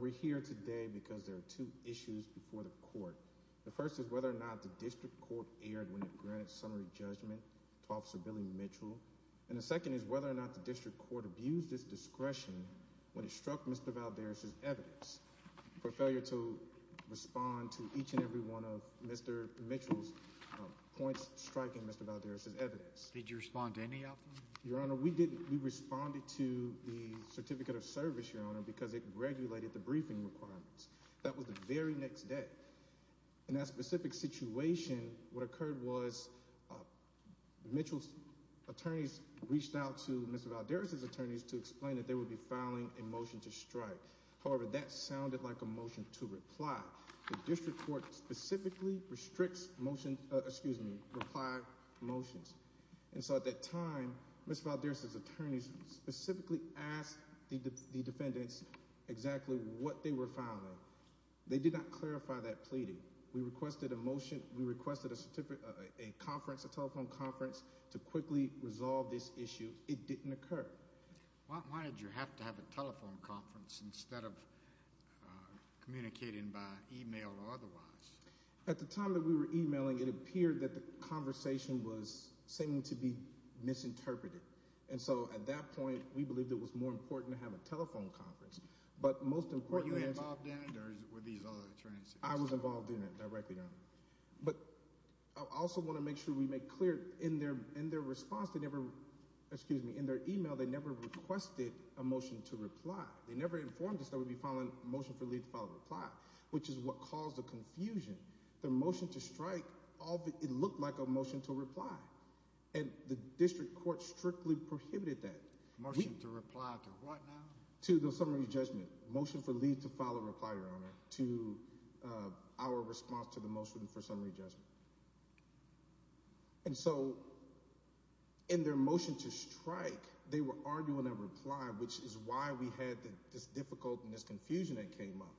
We're here today because there are two issues before the court. The first is whether or not the district court erred when it granted summary judgment to Officer Billy Mitchell. And the second is whether or not the district court abused its discretion when it struck Mr. Valderas' evidence for failure to respond to each and every one of Mr. Mitchell's points striking Mr. Valderas' evidence. Did you respond to any of them? Your Honor, we didn't. We responded to the Certificate of Service, Your Honor, because it regulated the briefing requirements. That was the very next day. In that specific situation, what occurred was Mitchell's attorneys reached out to Mr. Valderas' attorneys to explain that they would be filing a motion to strike. However, that sounded like a motion to reply. The district court specifically restricts motions, excuse me, reply motions. And so at that time, Mr. Valderas' attorneys specifically asked the defendants exactly what they were filing. They did not clarify that pleading. We requested a motion, we requested a conference, a telephone conference to quickly resolve this issue. It didn't occur. Why did you have to have a telephone conference instead of communicating by email or otherwise? At the time that we were emailing, it appeared that the conversation was seeming to be misinterpreted. And so at that point, we believed it was more important to have a telephone conference. But most importantly... Were you involved in it, or were these other attorneys? I was involved in it directly, Your Honor. But I also want to make sure we make clear in their response, they never, excuse me, in their email, they never requested a motion to reply. They never informed us that we would be filing a motion for leave to file a reply, which is what caused the confusion. The motion to strike, it looked like a motion to reply. And the district court strictly prohibited that. Motion to reply to what now? To the summary judgment. Motion for leave to file a reply, Your Honor, to our response to the motion to strike. And so, in their motion to strike, they were arguing a reply, which is why we had this difficulty and this confusion that came up.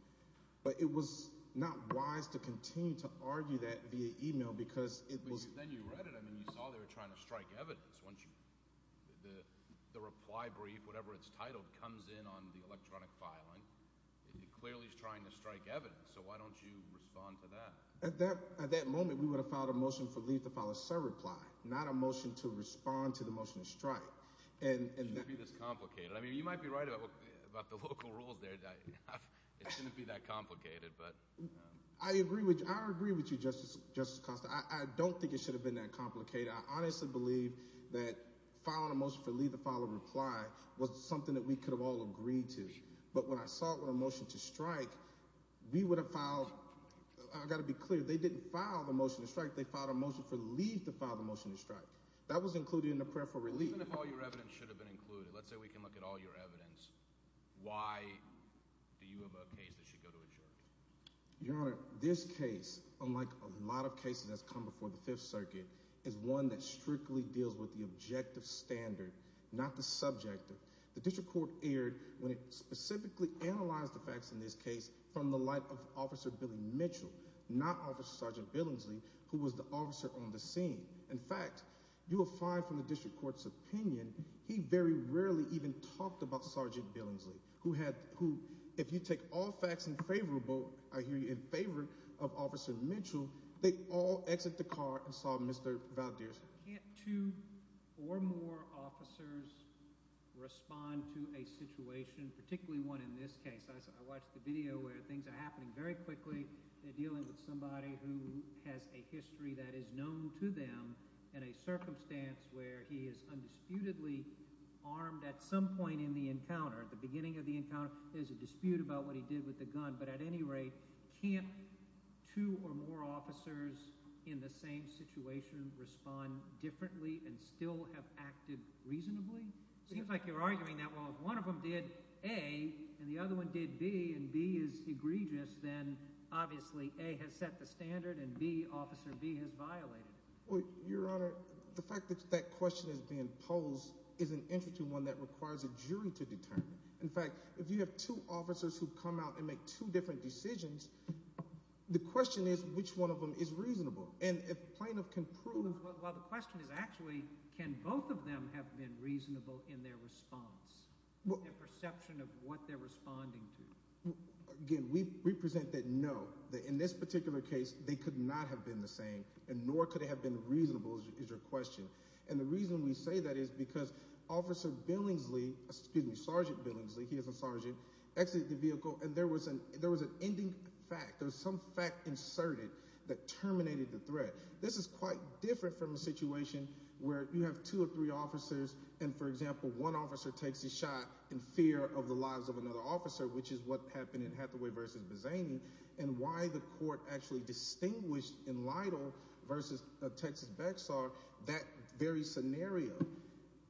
But it was not wise to continue to argue that via email, because it was... But then you read it, I mean, you saw they were trying to strike evidence, weren't you? The reply brief, whatever it's titled, comes in on the electronic filing. It clearly is trying to strike evidence, so why don't you file a motion for leave to file a reply, not a motion to respond to the motion to strike. It shouldn't be this complicated. I mean, you might be right about the local rules there. It shouldn't be that complicated, but... I agree with you, Justice Costa. I don't think it should have been that complicated. I honestly believe that filing a motion for leave to file a reply was something that we could have all agreed to. But when I saw it with a motion to strike, we would have filed... I've got to be clear, they didn't file the motion to strike, they filed a motion for leave to file the motion to strike. That was included in the prayer for relief. Even if all your evidence should have been included, let's say we can look at all your evidence, why do you have a case that should go to a jury? Your Honor, this case, unlike a lot of cases that's come before the Fifth Circuit, is one that strictly deals with the objective standard, not the subjective. The District Court erred when they specifically analyzed the facts in this case from the light of Officer Billy Mitchell, not Officer Sergeant Billingsley, who was the officer on the scene. In fact, you will find from the District Court's opinion, he very rarely even talked about Sergeant Billingsley, who had... If you take all facts in favor of Officer Mitchell, they all exit the car and saw Mr. Valdez. Can't two or more officers respond to a situation particularly one in this case? I watched the video where things are happening very quickly. They're dealing with somebody who has a history that is known to them in a circumstance where he is undisputedly armed at some point in the encounter, the beginning of the encounter. There's a dispute about what he did with the gun, but at any rate, can't two or more officers in the same situation respond differently and still have acted reasonably? It seems like you're arguing that, well, if one of them did A, and the other one did B, and B is egregious, then obviously A has set the standard, and B, Officer B, has violated it. Well, Your Honor, the fact that that question is being posed is an interesting one that requires a jury to determine. In fact, if you have two officers who come out and make two different decisions, the question is which one of them is reasonable. And if plaintiff can prove... Well, the question is actually, can both of them have been reasonable in their response, their perception of what they're responding to? Again, we present that, no. In this particular case, they could not have been the same, and nor could they have been reasonable, is your question. And the reason we say that is because Officer Billingsley, excuse me, Sergeant Billingsley, he is a sergeant, exited the vehicle, and there was an ending fact, there was some fact inserted that terminated the threat. This is quite different from a takes a shot in fear of the lives of another officer, which is what happened in Hathaway v. Bazzani, and why the court actually distinguished in Lytle v. Texas Bexar that very scenario.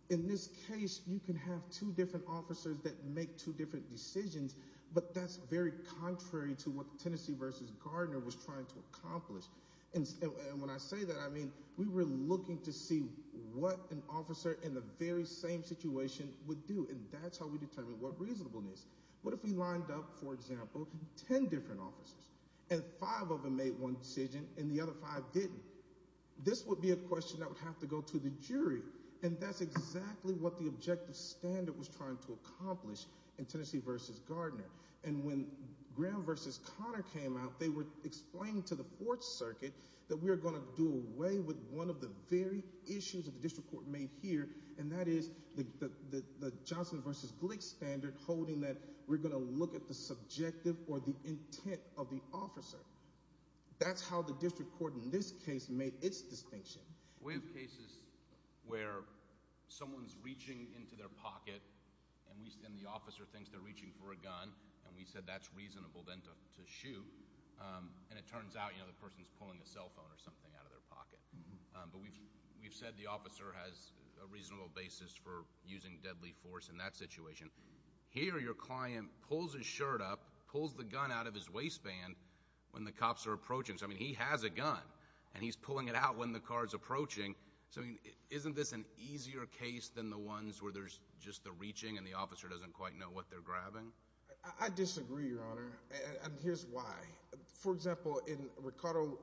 In this case, you can have two different officers that make two different decisions, but that's very contrary to what Tennessee v. Gardner was trying to accomplish. And when I say that, we were looking to see what an officer in the very same situation would do, and that's how we determined what reasonableness. What if we lined up, for example, 10 different officers, and five of them made one decision, and the other five didn't? This would be a question that would have to go to the jury, and that's exactly what the objective standard was trying to accomplish in Tennessee v. Gardner. And when Graham v. Connor came out, they were explaining to the jury that they were going to look at the subjective or the intent of the officer. That's how the district court in this case made its distinction. We have cases where someone's reaching into their pocket, and the officer thinks they're reaching for a gun, and we said that's reasonable then to shoot, and it turns out the person's pocket. But we've said the officer has a reasonable basis for using deadly force in that situation. Here, your client pulls his shirt up, pulls the gun out of his waistband when the cops are approaching. So, I mean, he has a gun, and he's pulling it out when the car's approaching. So, isn't this an easier case than the ones where there's just the reaching and the officer doesn't quite know what they're grabbing? I disagree, Your Honor, and here's why. For example, in Ricardo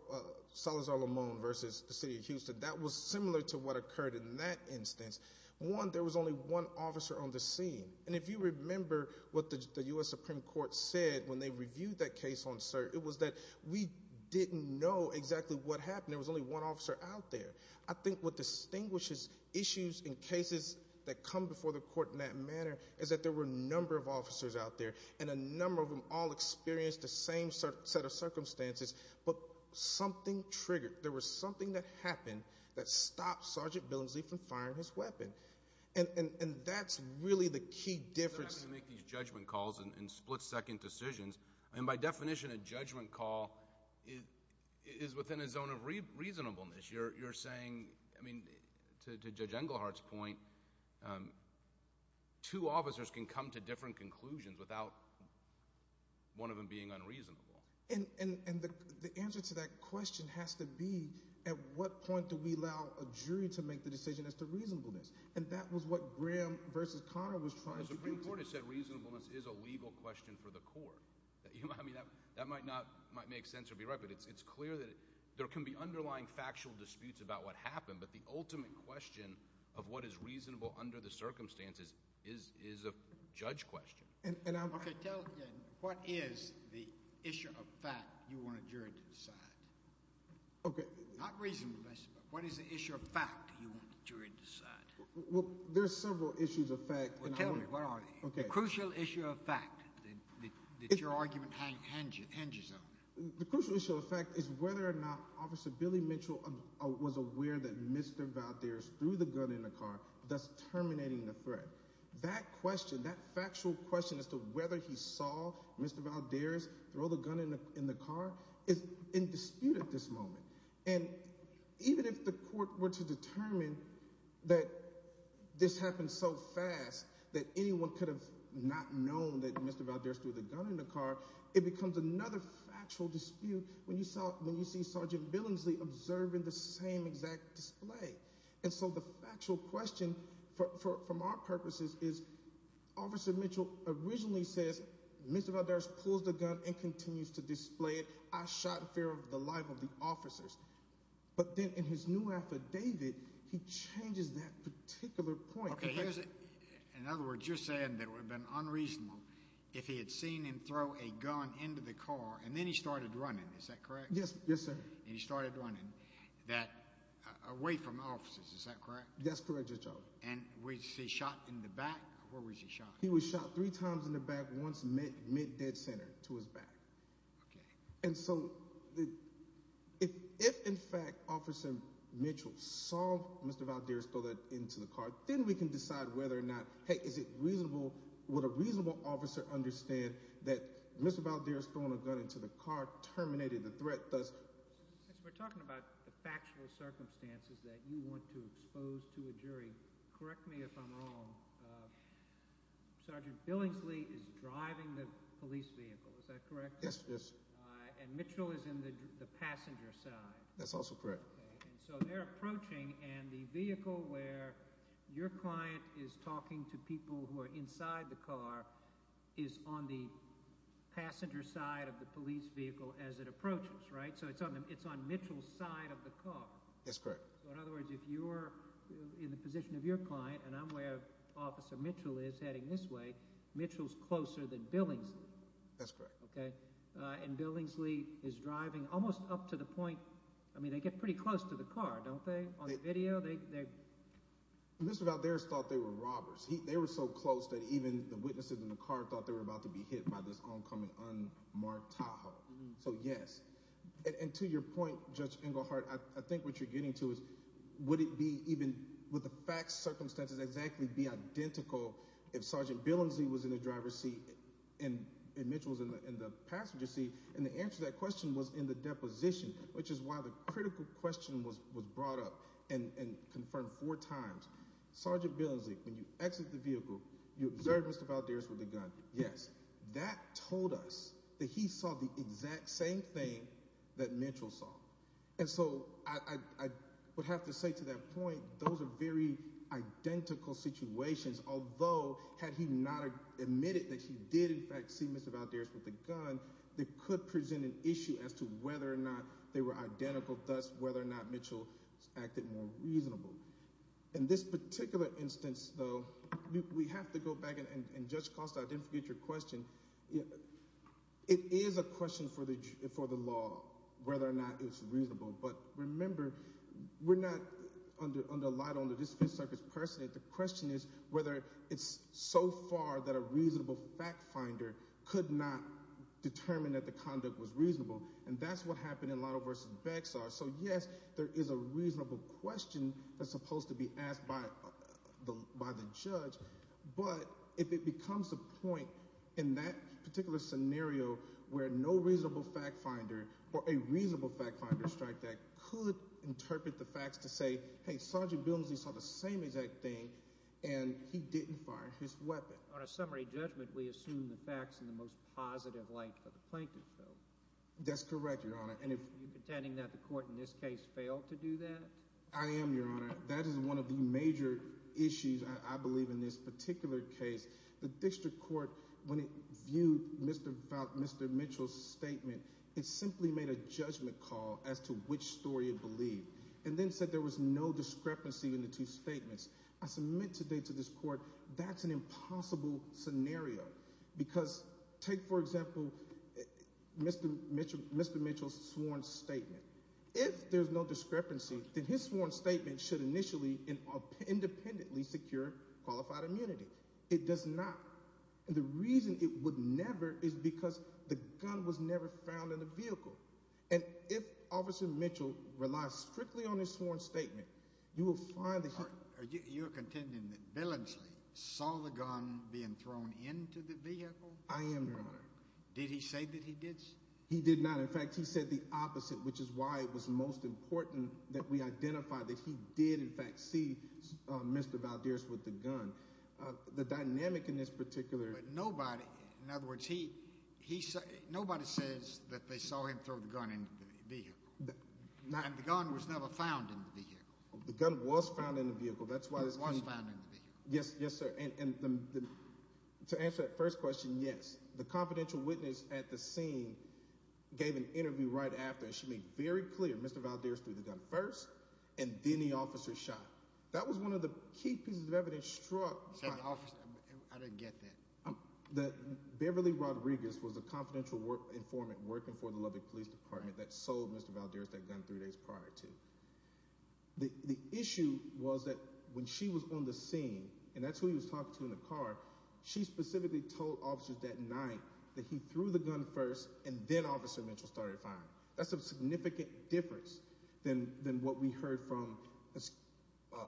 Salazar-Lamon v. the City of Houston, that was similar to what occurred in that instance. One, there was only one officer on the scene, and if you remember what the U.S. Supreme Court said when they reviewed that case on cert, it was that we didn't know exactly what happened. There was only one officer out there. I think what distinguishes issues in cases that come before the court in that manner is that there were a number of officers out there, and a number of them all experienced the same set of circumstances, but something triggered. There was something that happened that stopped Sergeant Billingsley from firing his weapon, and that's really the key difference. You make these judgment calls and split-second decisions, and by definition, a judgment call is within a zone of reasonableness. You're saying, I mean, to Judge Englehart's point, two officers can come to different conclusions without one of them being unreasonable. And the answer to that question has to be, at what point do we allow a jury to make the decision as to reasonableness? And that was what Graham v. Conner was trying to do. The Supreme Court has said reasonableness is a legal question for the court. I mean, that might make sense or be right, but it's clear that there can be underlying factual disputes about what happened, but the ultimate question of what is the issue of fact you want a jury to decide? Not reasonableness, but what is the issue of fact you want the jury to decide? Well, there are several issues of fact. Well, tell me, what are they? The crucial issue of fact that your argument hinges on. The crucial issue of fact is whether or not Officer Billy Mitchell was aware that Mr. Valdez threw the gun in the car, thus terminating the threat. That question, that factual question as to whether he saw Mr. Valdez throw the gun in the car is in dispute at this moment. And even if the court were to determine that this happened so fast that anyone could have not known that Mr. Valdez threw the gun in the car, it becomes another factual dispute when you see Sergeant Billingsley observing the same exact display. And so the factual question from our purposes is Officer Mitchell originally says Mr. Valdez pulls the gun and continues to display it. I shot in fear of the life of the officers. But then in his new affidavit, he changes that particular point. In other words, you're saying that it would have been unreasonable if he had seen him throw a gun into the car and then he started running away from the officers. Is that correct? That's correct, Judge O. And was he shot in the back? Or was he shot? He was shot three times in the back, once mid-dead center to his back. And so if in fact Officer Mitchell saw Mr. Valdez throw that into the car, then we can decide whether or not, hey, is it reasonable? Would a reasonable officer understand that Mr. Valdez throwing a gun into the car terminated the threat? We're talking about the factual circumstances that you want to expose to a jury. Correct me if I'm wrong. Sergeant Billingsley is driving the police vehicle. Is that correct? Yes, yes. And Mitchell is in the passenger side. That's also correct. And so they're approaching and the vehicle where your client is talking to people who are inside the car is on the passenger side of the police vehicle as it approaches, right? So it's on Mitchell's side of the car. That's correct. So in other words, if you're in the position of your client and I'm where Officer Mitchell is heading this way, Mitchell's closer than Billingsley. That's correct. Okay. And Billingsley is driving almost up to the point, I mean, they get pretty close to the car, don't they, on the video? Mr. Valdez thought they were robbers. They were so close that the witnesses in the car thought they were about to be hit by this oncoming unmarked Tahoe. So yes. And to your point, Judge Engelhardt, I think what you're getting to is would it be, even with the facts, circumstances, exactly be identical if Sergeant Billingsley was in the driver's seat and Mitchell was in the passenger seat? And the answer to that question was in the deposition, which is why the critical question was brought up and confirmed four times. Sergeant Billingsley, when you exit the vehicle, you observe Mr. Valdez with the gun. Yes. That told us that he saw the exact same thing that Mitchell saw. And so I would have to say to that point, those are very identical situations, although had he not admitted that he did, in fact, see Mr. Valdez with the gun, that could present an issue as to whether or not they were identical, thus whether or not Mitchell acted more reasonable. In this particular instance, though, we have to go back and Judge Costa, I didn't forget your question. It is a question for the law, whether or not it's reasonable. But remember, we're not under a lot on the discipline circuit personally. The question is whether it's so far that a reasonable fact finder could not determine that the conduct was reasonable. And that's what happened in a lot of cases. So yes, there is a reasonable question that's supposed to be asked by the by the judge. But if it becomes a point in that particular scenario where no reasonable fact finder or a reasonable fact finder strike that could interpret the facts to say, hey, Sergeant Billingsley saw the same exact thing, and he didn't fire his weapon. On a summary judgment, we assume the attending that the court in this case failed to do that. I am your honor. That is one of the major issues. I believe in this particular case, the district court when it viewed Mr. Mr. Mitchell's statement, it simply made a judgment call as to which story you believe, and then said there was no discrepancy in the two statements. I submit today to this court. That's an impossible scenario. Because take, for example, Mr. Mr. Mr. Mitchell's sworn statement. If there's no discrepancy, then his sworn statement should initially independently secure qualified immunity. It does not. And the reason it would never is because the gun was never found in the vehicle. And if Officer Mitchell relies strictly on his sworn statement, you will find that you're being thrown into the vehicle. I am your honor. Did he say that he did? He did not. In fact, he said the opposite, which is why it was most important that we identify that he did, in fact, see Mr. Valdez with the gun. The dynamic in this particular nobody. In other words, he he nobody says that they saw him throw the gun in the gun was never found in the gun was found in the vehicle. Yes, yes, sir. And to answer that first question, yes, the confidential witness at the scene gave an interview right after she made very clear Mr. Valdez threw the gun first and then the officer shot. That was one of the key pieces of evidence struck. I didn't get that. Beverly Rodriguez was a confidential work informant working for the Lubbock Police Department that sold Mr. Valdez that gun three days prior to the issue was that when she was on the scene and that's who he was talking to in the car, she specifically told officers that night that he threw the gun first and then Officer Mitchell started firing. That's a significant difference than than what we heard from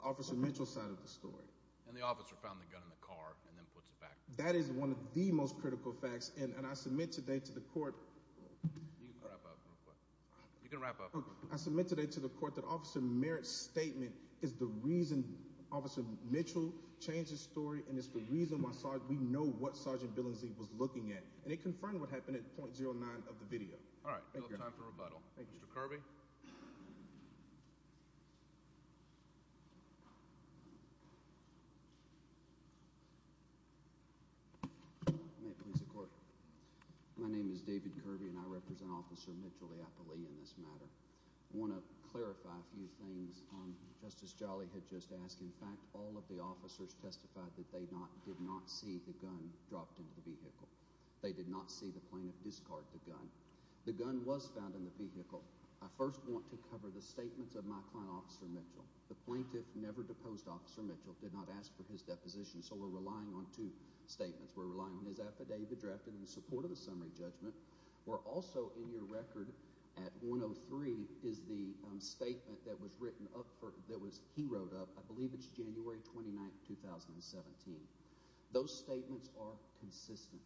Officer Mitchell's side of the story. And the officer found the gun in the car and then puts it back. That is one of the most critical facts and and I submit today to the court. You can wrap up. I submit today to the court that Officer Merritt's statement is the reason Officer Mitchell changed the story and it's the reason why we know what Sergeant Billingsley was looking at and it confirmed what happened at point zero nine of the video. All right, no time for rebuttal. Thank you, Mr. Kirby. May it please the court. My name is David Kirby and I represent Officer Mitchell Leopold in this matter. I want to clarify a few things. Justice Jolly had just asked. In fact, all of the officers testified that they did not see the gun dropped into the vehicle. They did not see the plaintiff discard the gun. The gun was found in the vehicle. I first want to cover the statements of my client Officer Mitchell. The plaintiff never deposed Officer Mitchell, did not ask for his deposition, so we're relying on two statements. We're relying on his affidavit drafted in support of the summary judgment. We're also in your record at one oh three is the statement that was written up for that was he wrote up. I believe it's January 29, 2017. Those statements are consistent.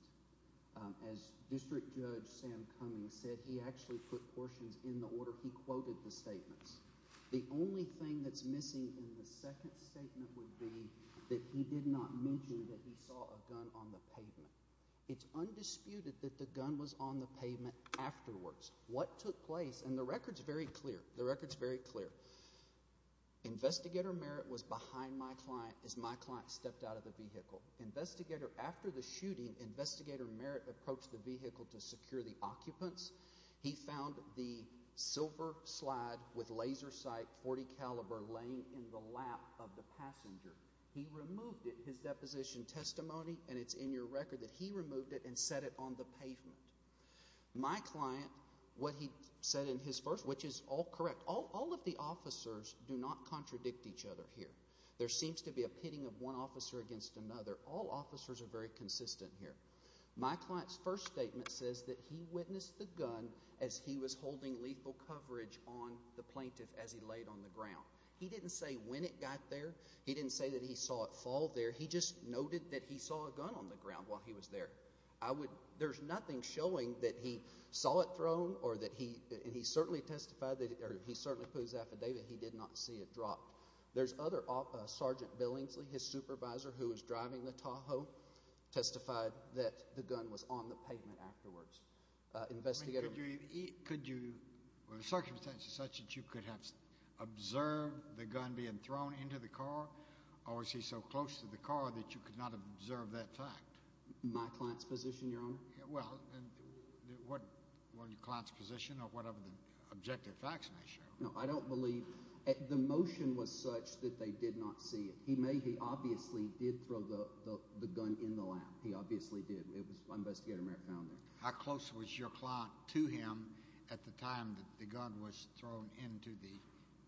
As District Judge Sam Cummings said, he actually put portions in the order he quoted the statements. The only thing that's missing in the second statement would be that he did not mention that he saw a gun on the pavement. It's undisputed that the gun was on the pavement afterwards. What took place, and the record's very clear, the record's very clear. Investigator Merritt was behind my client as my client stepped out of the vehicle. Investigator, after the shooting, Investigator Merritt approached the vehicle to secure the occupants. He found the silver slide with laser sight .40 caliber laying in the lap of the passenger. He removed it, his deposition testimony, and it's in your record that he removed it and set it on the pavement. My client, what he said in his first, which is all correct, all of the officers do not contradict each other here. There seems to be a pitting of one officer against another. All officers are very consistent here. My client's first statement says that he witnessed the gun as he was holding lethal coverage on the plaintiff as he laid on the ground. He didn't say when it got there. He didn't say that he saw it fall there. He just noted that he saw a gun on the ground while he was there. I would, there's nothing showing that he saw it thrown or that he, and he certainly testified that he certainly put his affidavit, he did not see it dropped. There's other, Sergeant Billingsley, his supervisor who was driving the Tahoe testified that the gun was on the pavement afterwards. Investigator, could you, were the circumstances such that you could have observed the gun being thrown into the car, or was he so close to the car that you could not have observed that fact? My client's position, Your Honor? Well, what was your client's position of whatever the objective facts may show? No, I don't believe, the motion was such that they did not see it. He may, he obviously did throw the gun in the lap. He obviously did. It was found there. How close was your client to him at the time that the gun was thrown into the...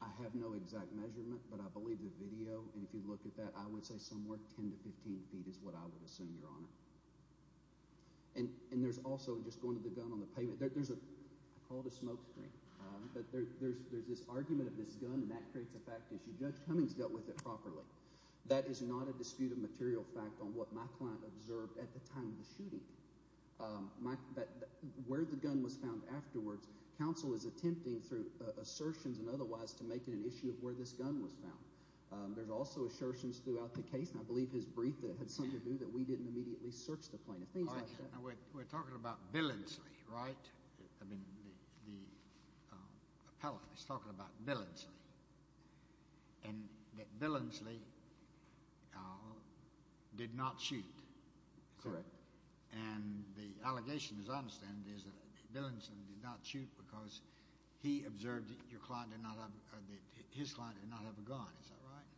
I have no exact measurement, but I believe the video, and if you look at that, I would say somewhere 10 to 15 feet is what I would assume, Your Honor. And there's also, just going to the gun on the pavement, there's a, I call it a smoke screen, but there's this argument of this gun, and that creates a fact issue. Judge Cummings dealt with it properly. That is not a disputed material fact on what my client observed at the time of the shooting. Where the gun was found afterwards, counsel is attempting through assertions and otherwise to make it an issue of where this gun was found. There's also assertions throughout the case, and I believe his brief had something to do that we didn't immediately search the plane. We're talking about Billingsley, right? I mean, the appellant is talking about Billingsley, and that Billingsley did not shoot. Correct. And the allegation, as I understand it, is that Billingsley did not shoot because he observed that your client did not have, that his client did not have a gun. Is that right?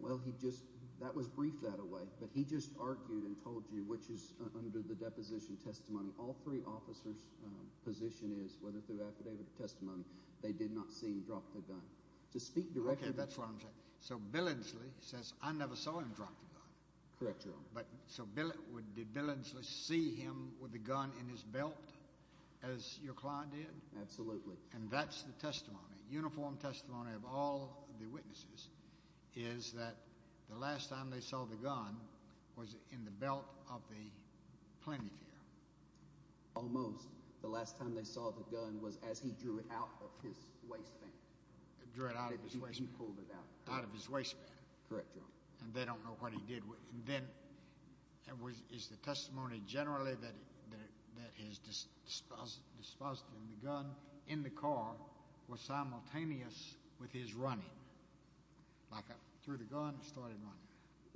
Well, he just, that was briefed that away, but he just argued and told you, which is under the deposition testimony, all three officers' position is, whether through affidavit or testimony, they did not see him drop the gun. To speak directly... Okay, that's what I'm saying. So Billingsley, did Billingsley see him with the gun in his belt as your client did? Absolutely. And that's the testimony, uniform testimony of all the witnesses, is that the last time they saw the gun was in the belt of the plenifier. Almost. The last time they saw the gun was as he drew it out of his waistband. He drew it out of his waistband. He pulled it out. Out of his waistband. And then, is the testimony generally that his disposition, the gun in the car, was simultaneous with his running? Like, through the gun, started running.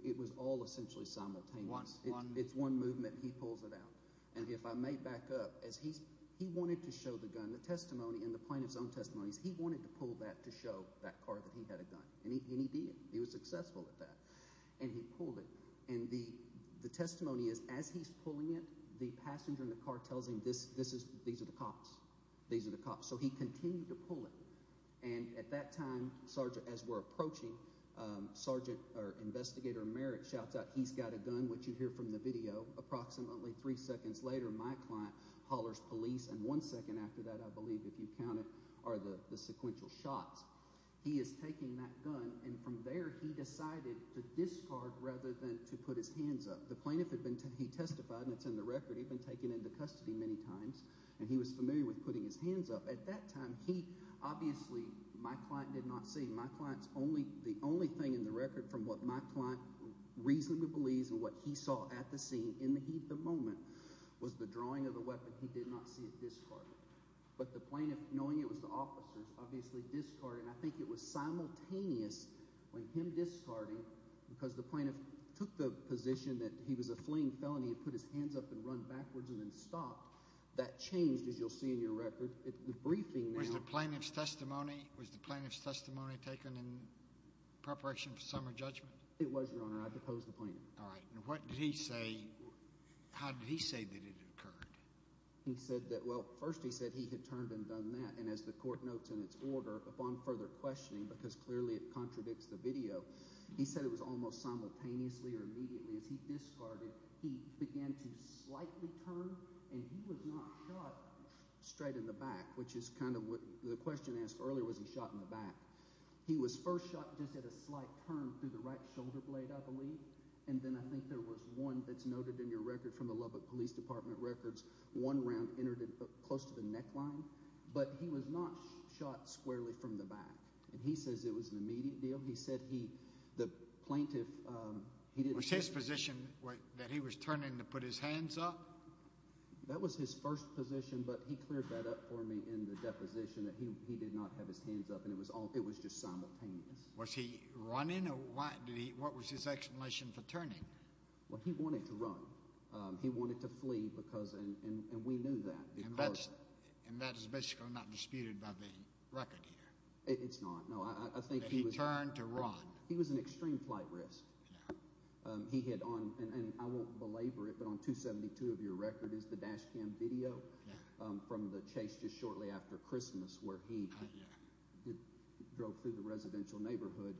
It was all essentially simultaneous. It's one movement, he pulls it out. And if I may back up, he wanted to show the gun, the testimony and the plaintiff's own testimony, he wanted to pull that to show that car that he had a gun. And he did. He was successful at that. And he pulled it. And the testimony is, as he's pulling it, the passenger in the car tells him, these are the cops. These are the cops. So he continued to pull it. And at that time, Sergeant, as we're approaching, Sergeant, or Investigator Merritt shouts out, he's got a gun, which you hear from the video. Approximately three seconds later, my client hollers police. And one second after that, if you count it, are the sequential shots. He is taking that gun. And from there, he decided to discard rather than to put his hands up. The plaintiff had been, he testified, and it's in the record, he'd been taken into custody many times. And he was familiar with putting his hands up. At that time, he, obviously, my client did not see. My client's only, the only thing in the record from what my client reasonably believes and what he saw at the scene, in the heat of the moment, was the drawing of the weapon. He did not see it discarded. But the plaintiff, knowing it was the officers, obviously discarded. And I think it was simultaneous with him discarding, because the plaintiff took the position that he was a fleeing felony and put his hands up and run backwards and then stopped. That changed, as you'll see in your record. The briefing now- Was the plaintiff's testimony, was the plaintiff's testimony taken in preparation for summer judgment? It was, Your Honor. I deposed the plaintiff. All right. And what did he say, how did he say that it occurred? He said that, well, first he said he had turned and done that. And as the court notes in its order, upon further questioning, because clearly it contradicts the video, he said it was almost simultaneously or immediately as he discarded, he began to slightly turn and he was not shot straight in the back, which is kind of what the question asked earlier, was he shot in the back? He was first shot just at a slight turn through the right shoulder blade, I believe. And then I think there was one that's noted in your record from the Lubbock Police Department records, one round entered close to the neckline, but he was not shot squarely from the back. And he says it was an immediate deal. He said he, the plaintiff- Was his position that he was turning to put his hands up? That was his first position, but he cleared that up for me in the deposition that he did not have his hands up and it was all, it was just simultaneous. Was he running or what did he, what was his explanation for turning? Well, he wanted to run. He wanted to flee because, and we knew that. And that is basically not disputed by the record here. It's not. No, I think he was- That he turned to run. He was an extreme flight risk. He hit on, and I won't belabor it, but on 272 of your record is the dash cam video from the chase just shortly after Christmas where he drove through the residential neighborhood.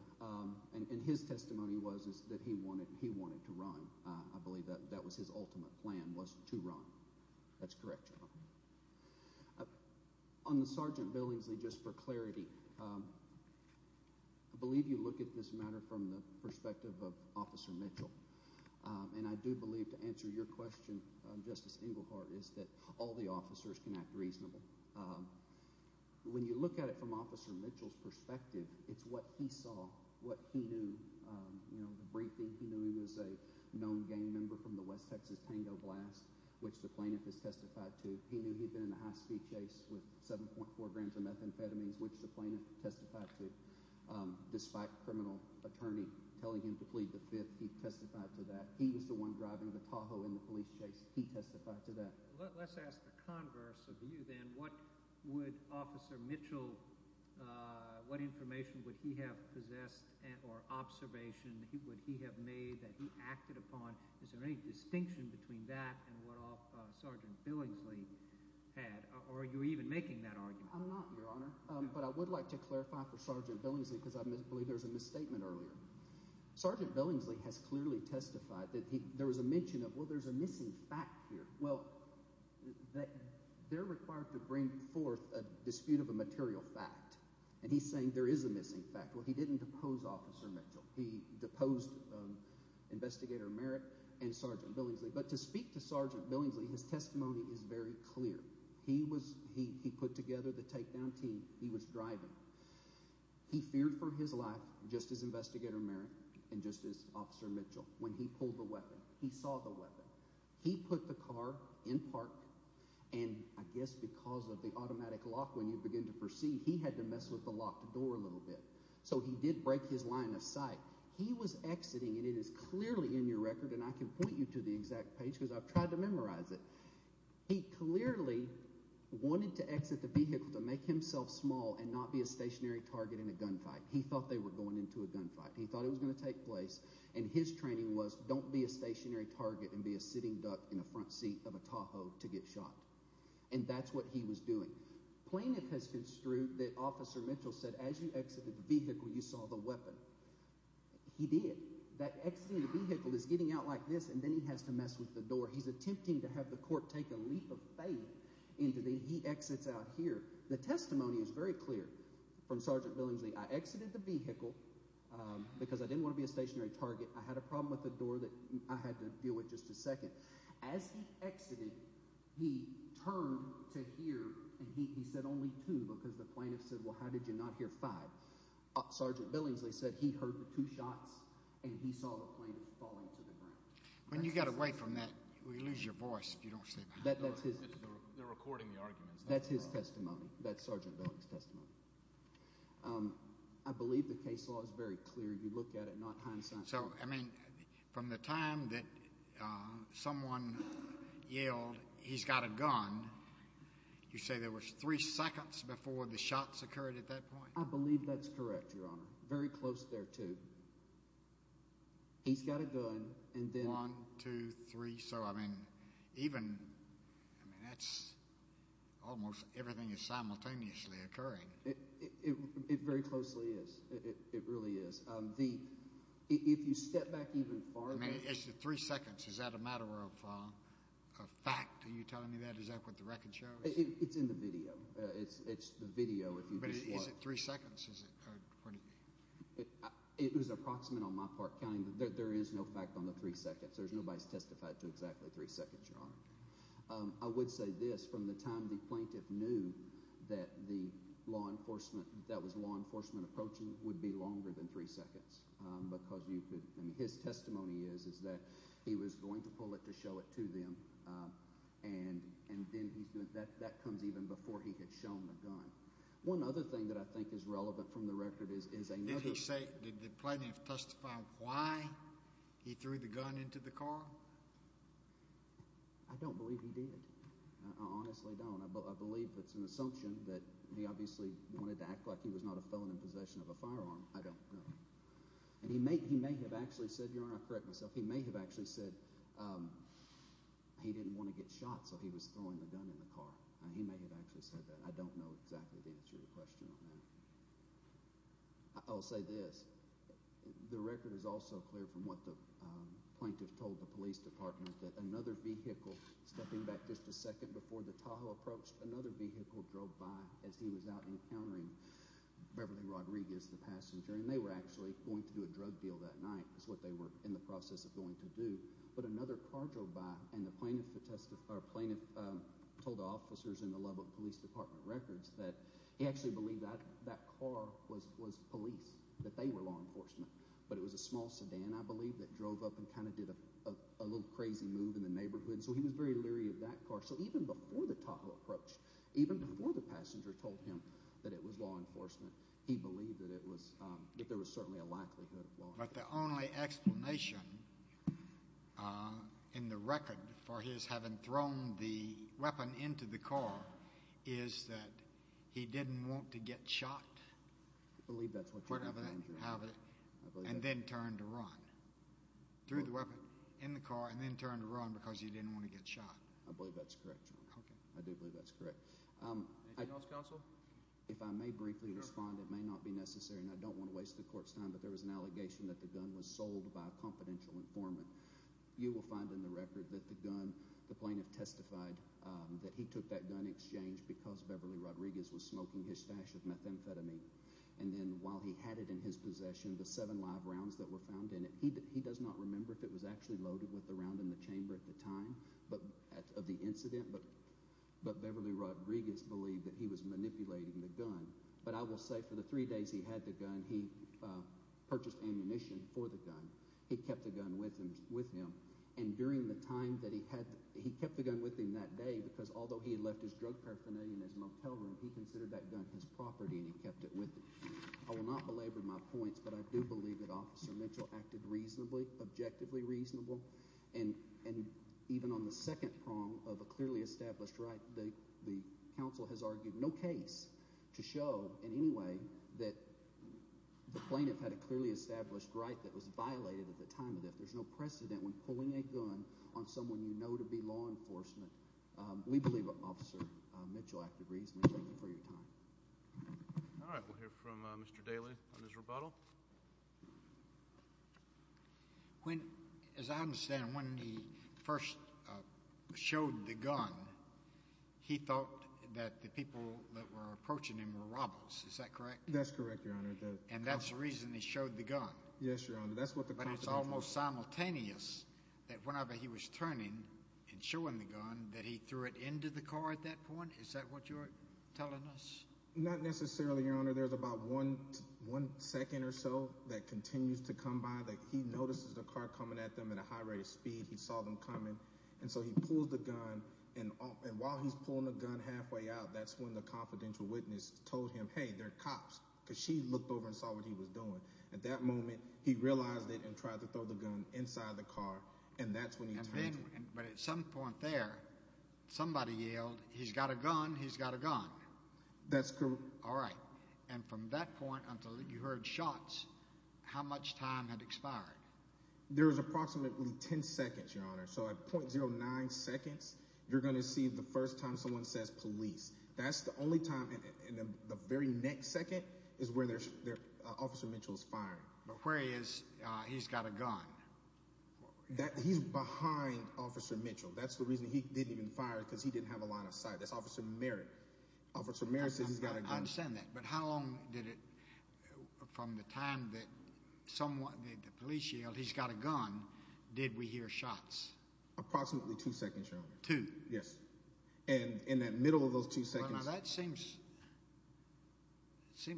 And his testimony was that he wanted to run. I believe that was his ultimate plan was to run. That's correct, John. On the Sergeant Billingsley, just for clarity, I believe you look at this matter from the perspective of Officer Mitchell. And I do believe to answer your question, Justice Englehart, is that all the officers can act reasonable. When you look at it from Officer Mitchell's perspective, it's what he saw, what he knew, you know, the briefing. He knew he was a known gang member from the West Texas Tango Blast, which the plaintiff has testified to. He knew he'd been in a high-speed chase with 7.4 grams of methamphetamines, which the plaintiff testified to. Despite the criminal attorney telling him to plead the fifth, he testified to that. He was the one driving the Tahoe in the police chase. He testified to that. Let's ask the converse of you then. What would Officer Mitchell, what information would he have possessed or observation would he have made that he acted upon? Is there any distinction between that and what Sergeant Billingsley had? Or are you even making that argument? I'm not, Your Honor. But I would like to clarify for Sergeant Billingsley because I believe there was a misstatement earlier. Sergeant Billingsley has clearly testified that there was a mention of, well, there's a missing fact here. Well, they're required to bring forth a dispute of a material fact. And he's saying there is a missing fact. Well, he didn't depose Officer Mitchell. He deposed Investigator Merritt and Sergeant Billingsley. But to speak to Sergeant Billingsley, his testimony is very clear. He put together the takedown team he was driving. He feared for his life just as Investigator Merritt and just as he saw the weapon, he put the car in park. And I guess because of the automatic lock, when you begin to proceed, he had to mess with the locked door a little bit. So he did break his line of sight. He was exiting and it is clearly in your record and I can point you to the exact page because I've tried to memorize it. He clearly wanted to exit the vehicle to make himself small and not be a stationary target in a gunfight. He thought they were going into a gunfight. He training was don't be a stationary target and be a sitting duck in the front seat of a Tahoe to get shot. And that's what he was doing. Plaintiff has construed that Officer Mitchell said as you exited the vehicle, you saw the weapon. He did. That exiting the vehicle is getting out like this and then he has to mess with the door. He's attempting to have the court take a leap of faith into the he exits out here. The testimony is very clear from Sergeant Billingsley. I exited the vehicle because I didn't want to be a stationary target. I had a problem with the door that I had to deal with just a second. As he exited, he turned to hear and he said only two because the plaintiff said, Well, how did you not hear five? Sergeant Billingsley said he heard the two shots and he saw the plane falling to the ground. When you got away from that, we lose your voice. You don't say that. That's his recording the arguments. That's his testimony. That's very clear. You look at it. So I mean, from the time that someone yelled he's got a gun, you say there was three seconds before the shots occurred at that point. I believe that's correct, Your Honor. Very close there, too. He's got a gun and then 123. So I mean, even that's almost everything is simultaneously occurring. It very closely is. It really is the if you step back even far three seconds. Is that a matter of fact? Are you telling me that? Is that what the record shows? It's in the video. It's the video. If you three seconds, it was approximate on my part counting. There is no fact on the three seconds. There's nobody's testified to exactly three seconds, Your Honor. I would say this from the time the plaintiff knew that the law enforcement that was law enforcement approaching would be longer than three seconds because you could. His testimony is is that he was going to pull it to show it to them. And and then he's doing that. That comes even before he had shown the gun. One other thing that I think is relevant from the record is is a. Did he say did the plaintiff testify why he threw the gun into the car? I don't believe he did. I honestly don't. I believe it's an assumption that he obviously wanted to act like he was not a felon in possession of a firearm. I don't know. And he may. He may have actually said, Your Honor. I correct myself. He may have actually said he didn't want to get shot, so he was throwing the gun in the car. He may have actually said that. I don't know exactly the answer to the question on that. I'll say this. The record is also clear from what the plaintiff told the police department that another vehicle stepping back just a second before the Tahoe approached another vehicle drove by as he was out encountering Beverly Rodriguez, the passenger, and they were actually going to do a drug deal that night. That's what they were in the process of going to do. But another car drove by and the plaintiff testified. Plaintiff told officers in the Lubbock Police Department records that he actually believed that that car was was police, that they were law enforcement. But it was a small sedan, I believe, that drove up and kind of did a little crazy move in the neighborhood. So he was very leery of that car. So even before the Tahoe approached, even before the passenger told him that it was law enforcement, he believed that it was, that there was certainly a likelihood of law enforcement. But the only explanation in the record for his having thrown the weapon into the car is that he didn't want to get shot. I believe that's what you're having to have it and then turn to run through the weapon in the car and then turn to run because you didn't want to get shot. I believe that's correct. Okay, I do believe that's correct. If I may briefly respond, it may not be necessary and I don't want to waste the court's time, but there was an allegation that the gun was sold by a confidential informant. You will find in the record that the gun, the plaintiff testified that he took that exchange because Beverly Rodriguez was smoking his stash of methamphetamine. And then while he had it in his possession, the seven live rounds that were found in it, he does not remember if it was actually loaded with the round in the chamber at the time, but of the incident, but Beverly Rodriguez believed that he was manipulating the gun. But I will say for the three days he had the gun, he purchased ammunition for the gun. He kept the gun with him with him. And during the time that he had, he kept the gun with him that day because although he had left his drug paraphernalia in his motel room, he considered that gun his property and he kept it with him. I will not belabor my points, but I do believe that Officer Mitchell acted reasonably, objectively reasonable. And even on the second prong of a clearly established right, the council has argued no case to show in any way that the plaintiff had a clearly established right that was violated at the time of death. There's no precedent when pulling a gun on someone you believe Officer Mitchell acted reasonably. Thank you for your time. All right. We'll hear from Mr. Daly on his rebuttal. When, as I understand, when he first showed the gun, he thought that the people that were approaching him were robbers. Is that correct? That's correct, Your Honor. And that's the reason he showed the gun? Yes, Your Honor. That's what the- But it's almost simultaneous that whenever he was turning and showing the gun, that he threw it into the car at that point? Is that what you're telling us? Not necessarily, Your Honor. There's about one second or so that continues to come by that he notices the car coming at them at a high rate of speed. He saw them coming, and so he pulled the gun. And while he's pulling the gun halfway out, that's when the confidential witness told him, hey, they're cops, because she looked over and saw what he was doing. At that moment, he realized it and tried to throw the gun inside the car, and that's when he turned it. But at some point there, somebody yelled, he's got a gun, he's got a gun. That's correct. All right. And from that point until you heard shots, how much time had expired? There was approximately 10 seconds, Your Honor. So at .09 seconds, you're going to see the first time someone says police. That's the only time in the very next second is where Officer Mitchell's firing. But where is he's got a gun? He's behind Officer Mitchell. That's the reason he didn't even fire, because he didn't have a line of sight. That's Officer Merritt. Officer Merritt says he's got a gun. I understand that. But how long did it, from the time that the police yelled, he's got a gun, did we hear shots? Approximately two seconds, Your Honor. Two? Yes. And in that middle of those two seconds. Well, now that seems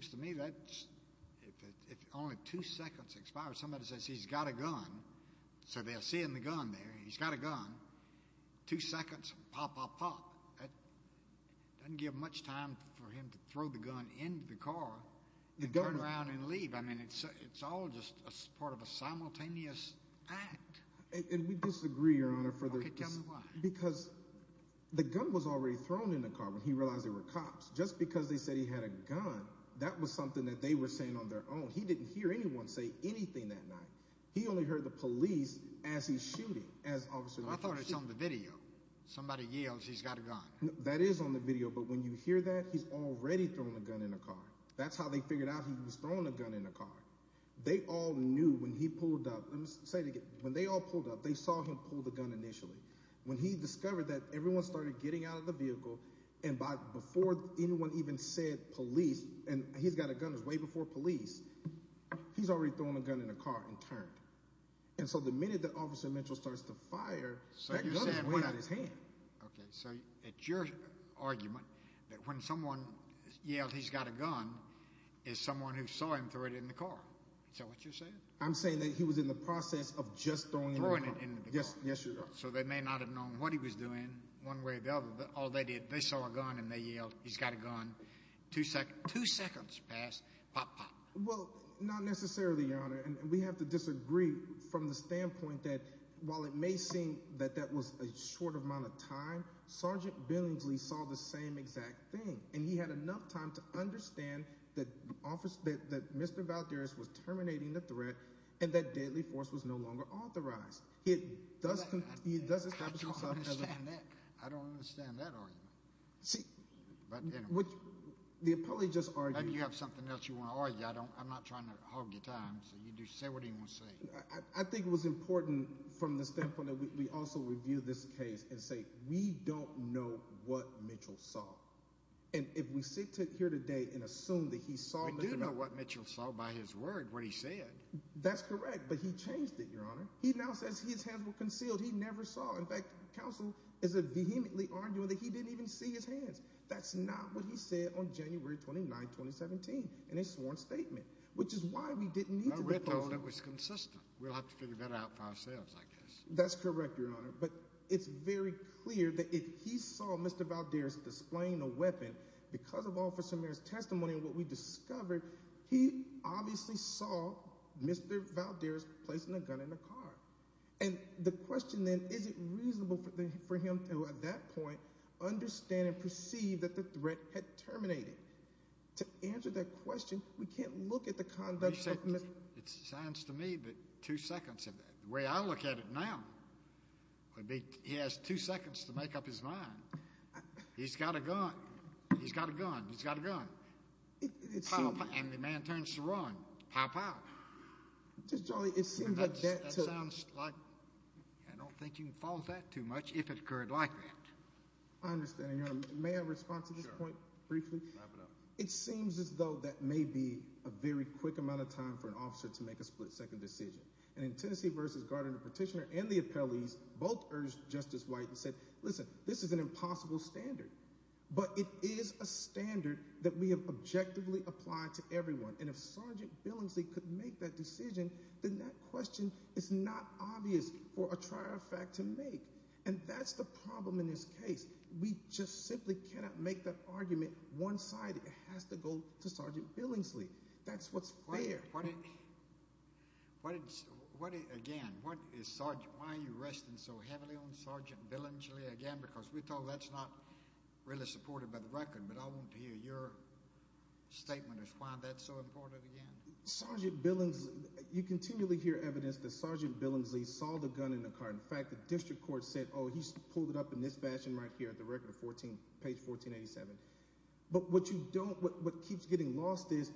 to me that if only two seconds expired, somebody says he's got a gun, so they're seeing the gun there. He's got a gun. Two seconds, pop, pop, pop. That doesn't give much time for him to throw the gun into the car and turn around and leave. I mean, it's all just part of a simultaneous act. And we disagree, Your Honor. Okay, tell me why. Because the gun was already thrown in the car when he realized there were cops. Just because they said he had a gun, that was something that they were saying on their own. He didn't hear anyone say anything that night. He only heard the police as he's shooting. But I thought it's on the video. Somebody yells he's got a gun. That is on the video. But when you hear that, he's already throwing a gun in a car. That's how they figured out he was throwing a gun in a car. They all knew when he pulled up. Let me say it again. When they all pulled up, they saw him pull the gun initially. When he discovered that, everyone started getting out of the vehicle. And before anyone even said and he's got a gun, it was way before police. He's already throwing a gun in a car and turned. And so the minute that Officer Mitchell starts to fire, the gun is way out of his hand. Okay, so it's your argument that when someone yelled he's got a gun, it's someone who saw him throw it in the car. Is that what you're saying? I'm saying that he was in the process of just throwing it in the car. Yes, Your Honor. So they may not have known what he was doing one way or the other, but all they did, they saw a gun and they yelled, he's got a gun. Two seconds passed, pop, pop. Well, not necessarily, Your Honor. And we have to disagree from the standpoint that while it may seem that that was a short amount of time, Sergeant Billingsley saw the same exact thing. And he had enough time to understand that Mr. Valdez was terminating the threat and that deadly force was no longer authorized. He does establish himself as a- I don't understand that argument. The appellee just argued- Maybe you have something else you want to argue. I'm not trying to hog your time, so you just say what you want to say. I think it was important from the standpoint that we also review this case and say, we don't know what Mitchell saw. And if we sit here today and assume that he saw- We do know what Mitchell saw by his word, what he said. That's correct, but he changed it, Your Honor. He now says his hands were concealed. He never saw. In fact, counsel is vehemently arguing that he didn't even see his hands. That's not what he said on January 29, 2017 in his sworn statement, which is why we didn't need to- I read that it was consistent. We'll have to figure that out for ourselves, I guess. That's correct, Your Honor. But it's very clear that if he saw Mr. Valdez displaying a weapon, because of Officer Merritt's testimony and what we discovered, he obviously saw Mr. Valdez placing a gun in the car. And the question then, is it reasonable for him to, at that point, understand and perceive that the threat had terminated? To answer that question, we can't look at the conduct of Mitchell- It sounds to me that two seconds of that, the way I look at it now, would be he has two seconds to make up his mind. He's got a gun. He's got a gun. He's got a gun. And the man turns to run. Pow, pow. Just, Charlie, it seems like that- That sounds like- I don't think you can follow that too much if it occurred like that. I understand, Your Honor. May I respond to this point briefly? Wrap it up. It seems as though that may be a very quick amount of time for an officer to make a split-second decision. And in Tennessee v. Gardner, the petitioner and the appellees both urged Justice White and said, listen, this is an impossible standard. But it is a standard that we have to make. And that question is not obvious for a trier of fact to make. And that's the problem in this case. We just simply cannot make that argument one-sided. It has to go to Sergeant Billingsley. That's what's fair. What did- again, why are you resting so heavily on Sergeant Billingsley again? Because we're told that's not really supported by the record. But I want to hear your statement as to why that's so important again. Sergeant Billingsley- you continually hear evidence that Sergeant Billingsley saw the gun in the car. In fact, the district court said, oh, he pulled it up in this fashion right here at the record 14- page 1487. But what you don't- what keeps getting lost is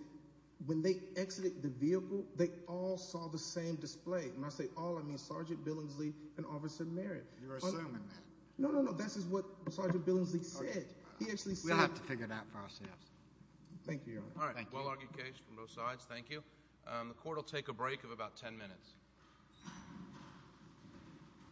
when they exited the vehicle, they all saw the same display. And when I say all, I mean Sergeant Billingsley and Officer Merritt. You're assuming that. No, no, no. This is what Sergeant Billingsley said. He actually said- We'll have to figure that process. Thank you, Your Honor. Well-argued case from both sides. Thank you. The court will take a break of about 10 minutes.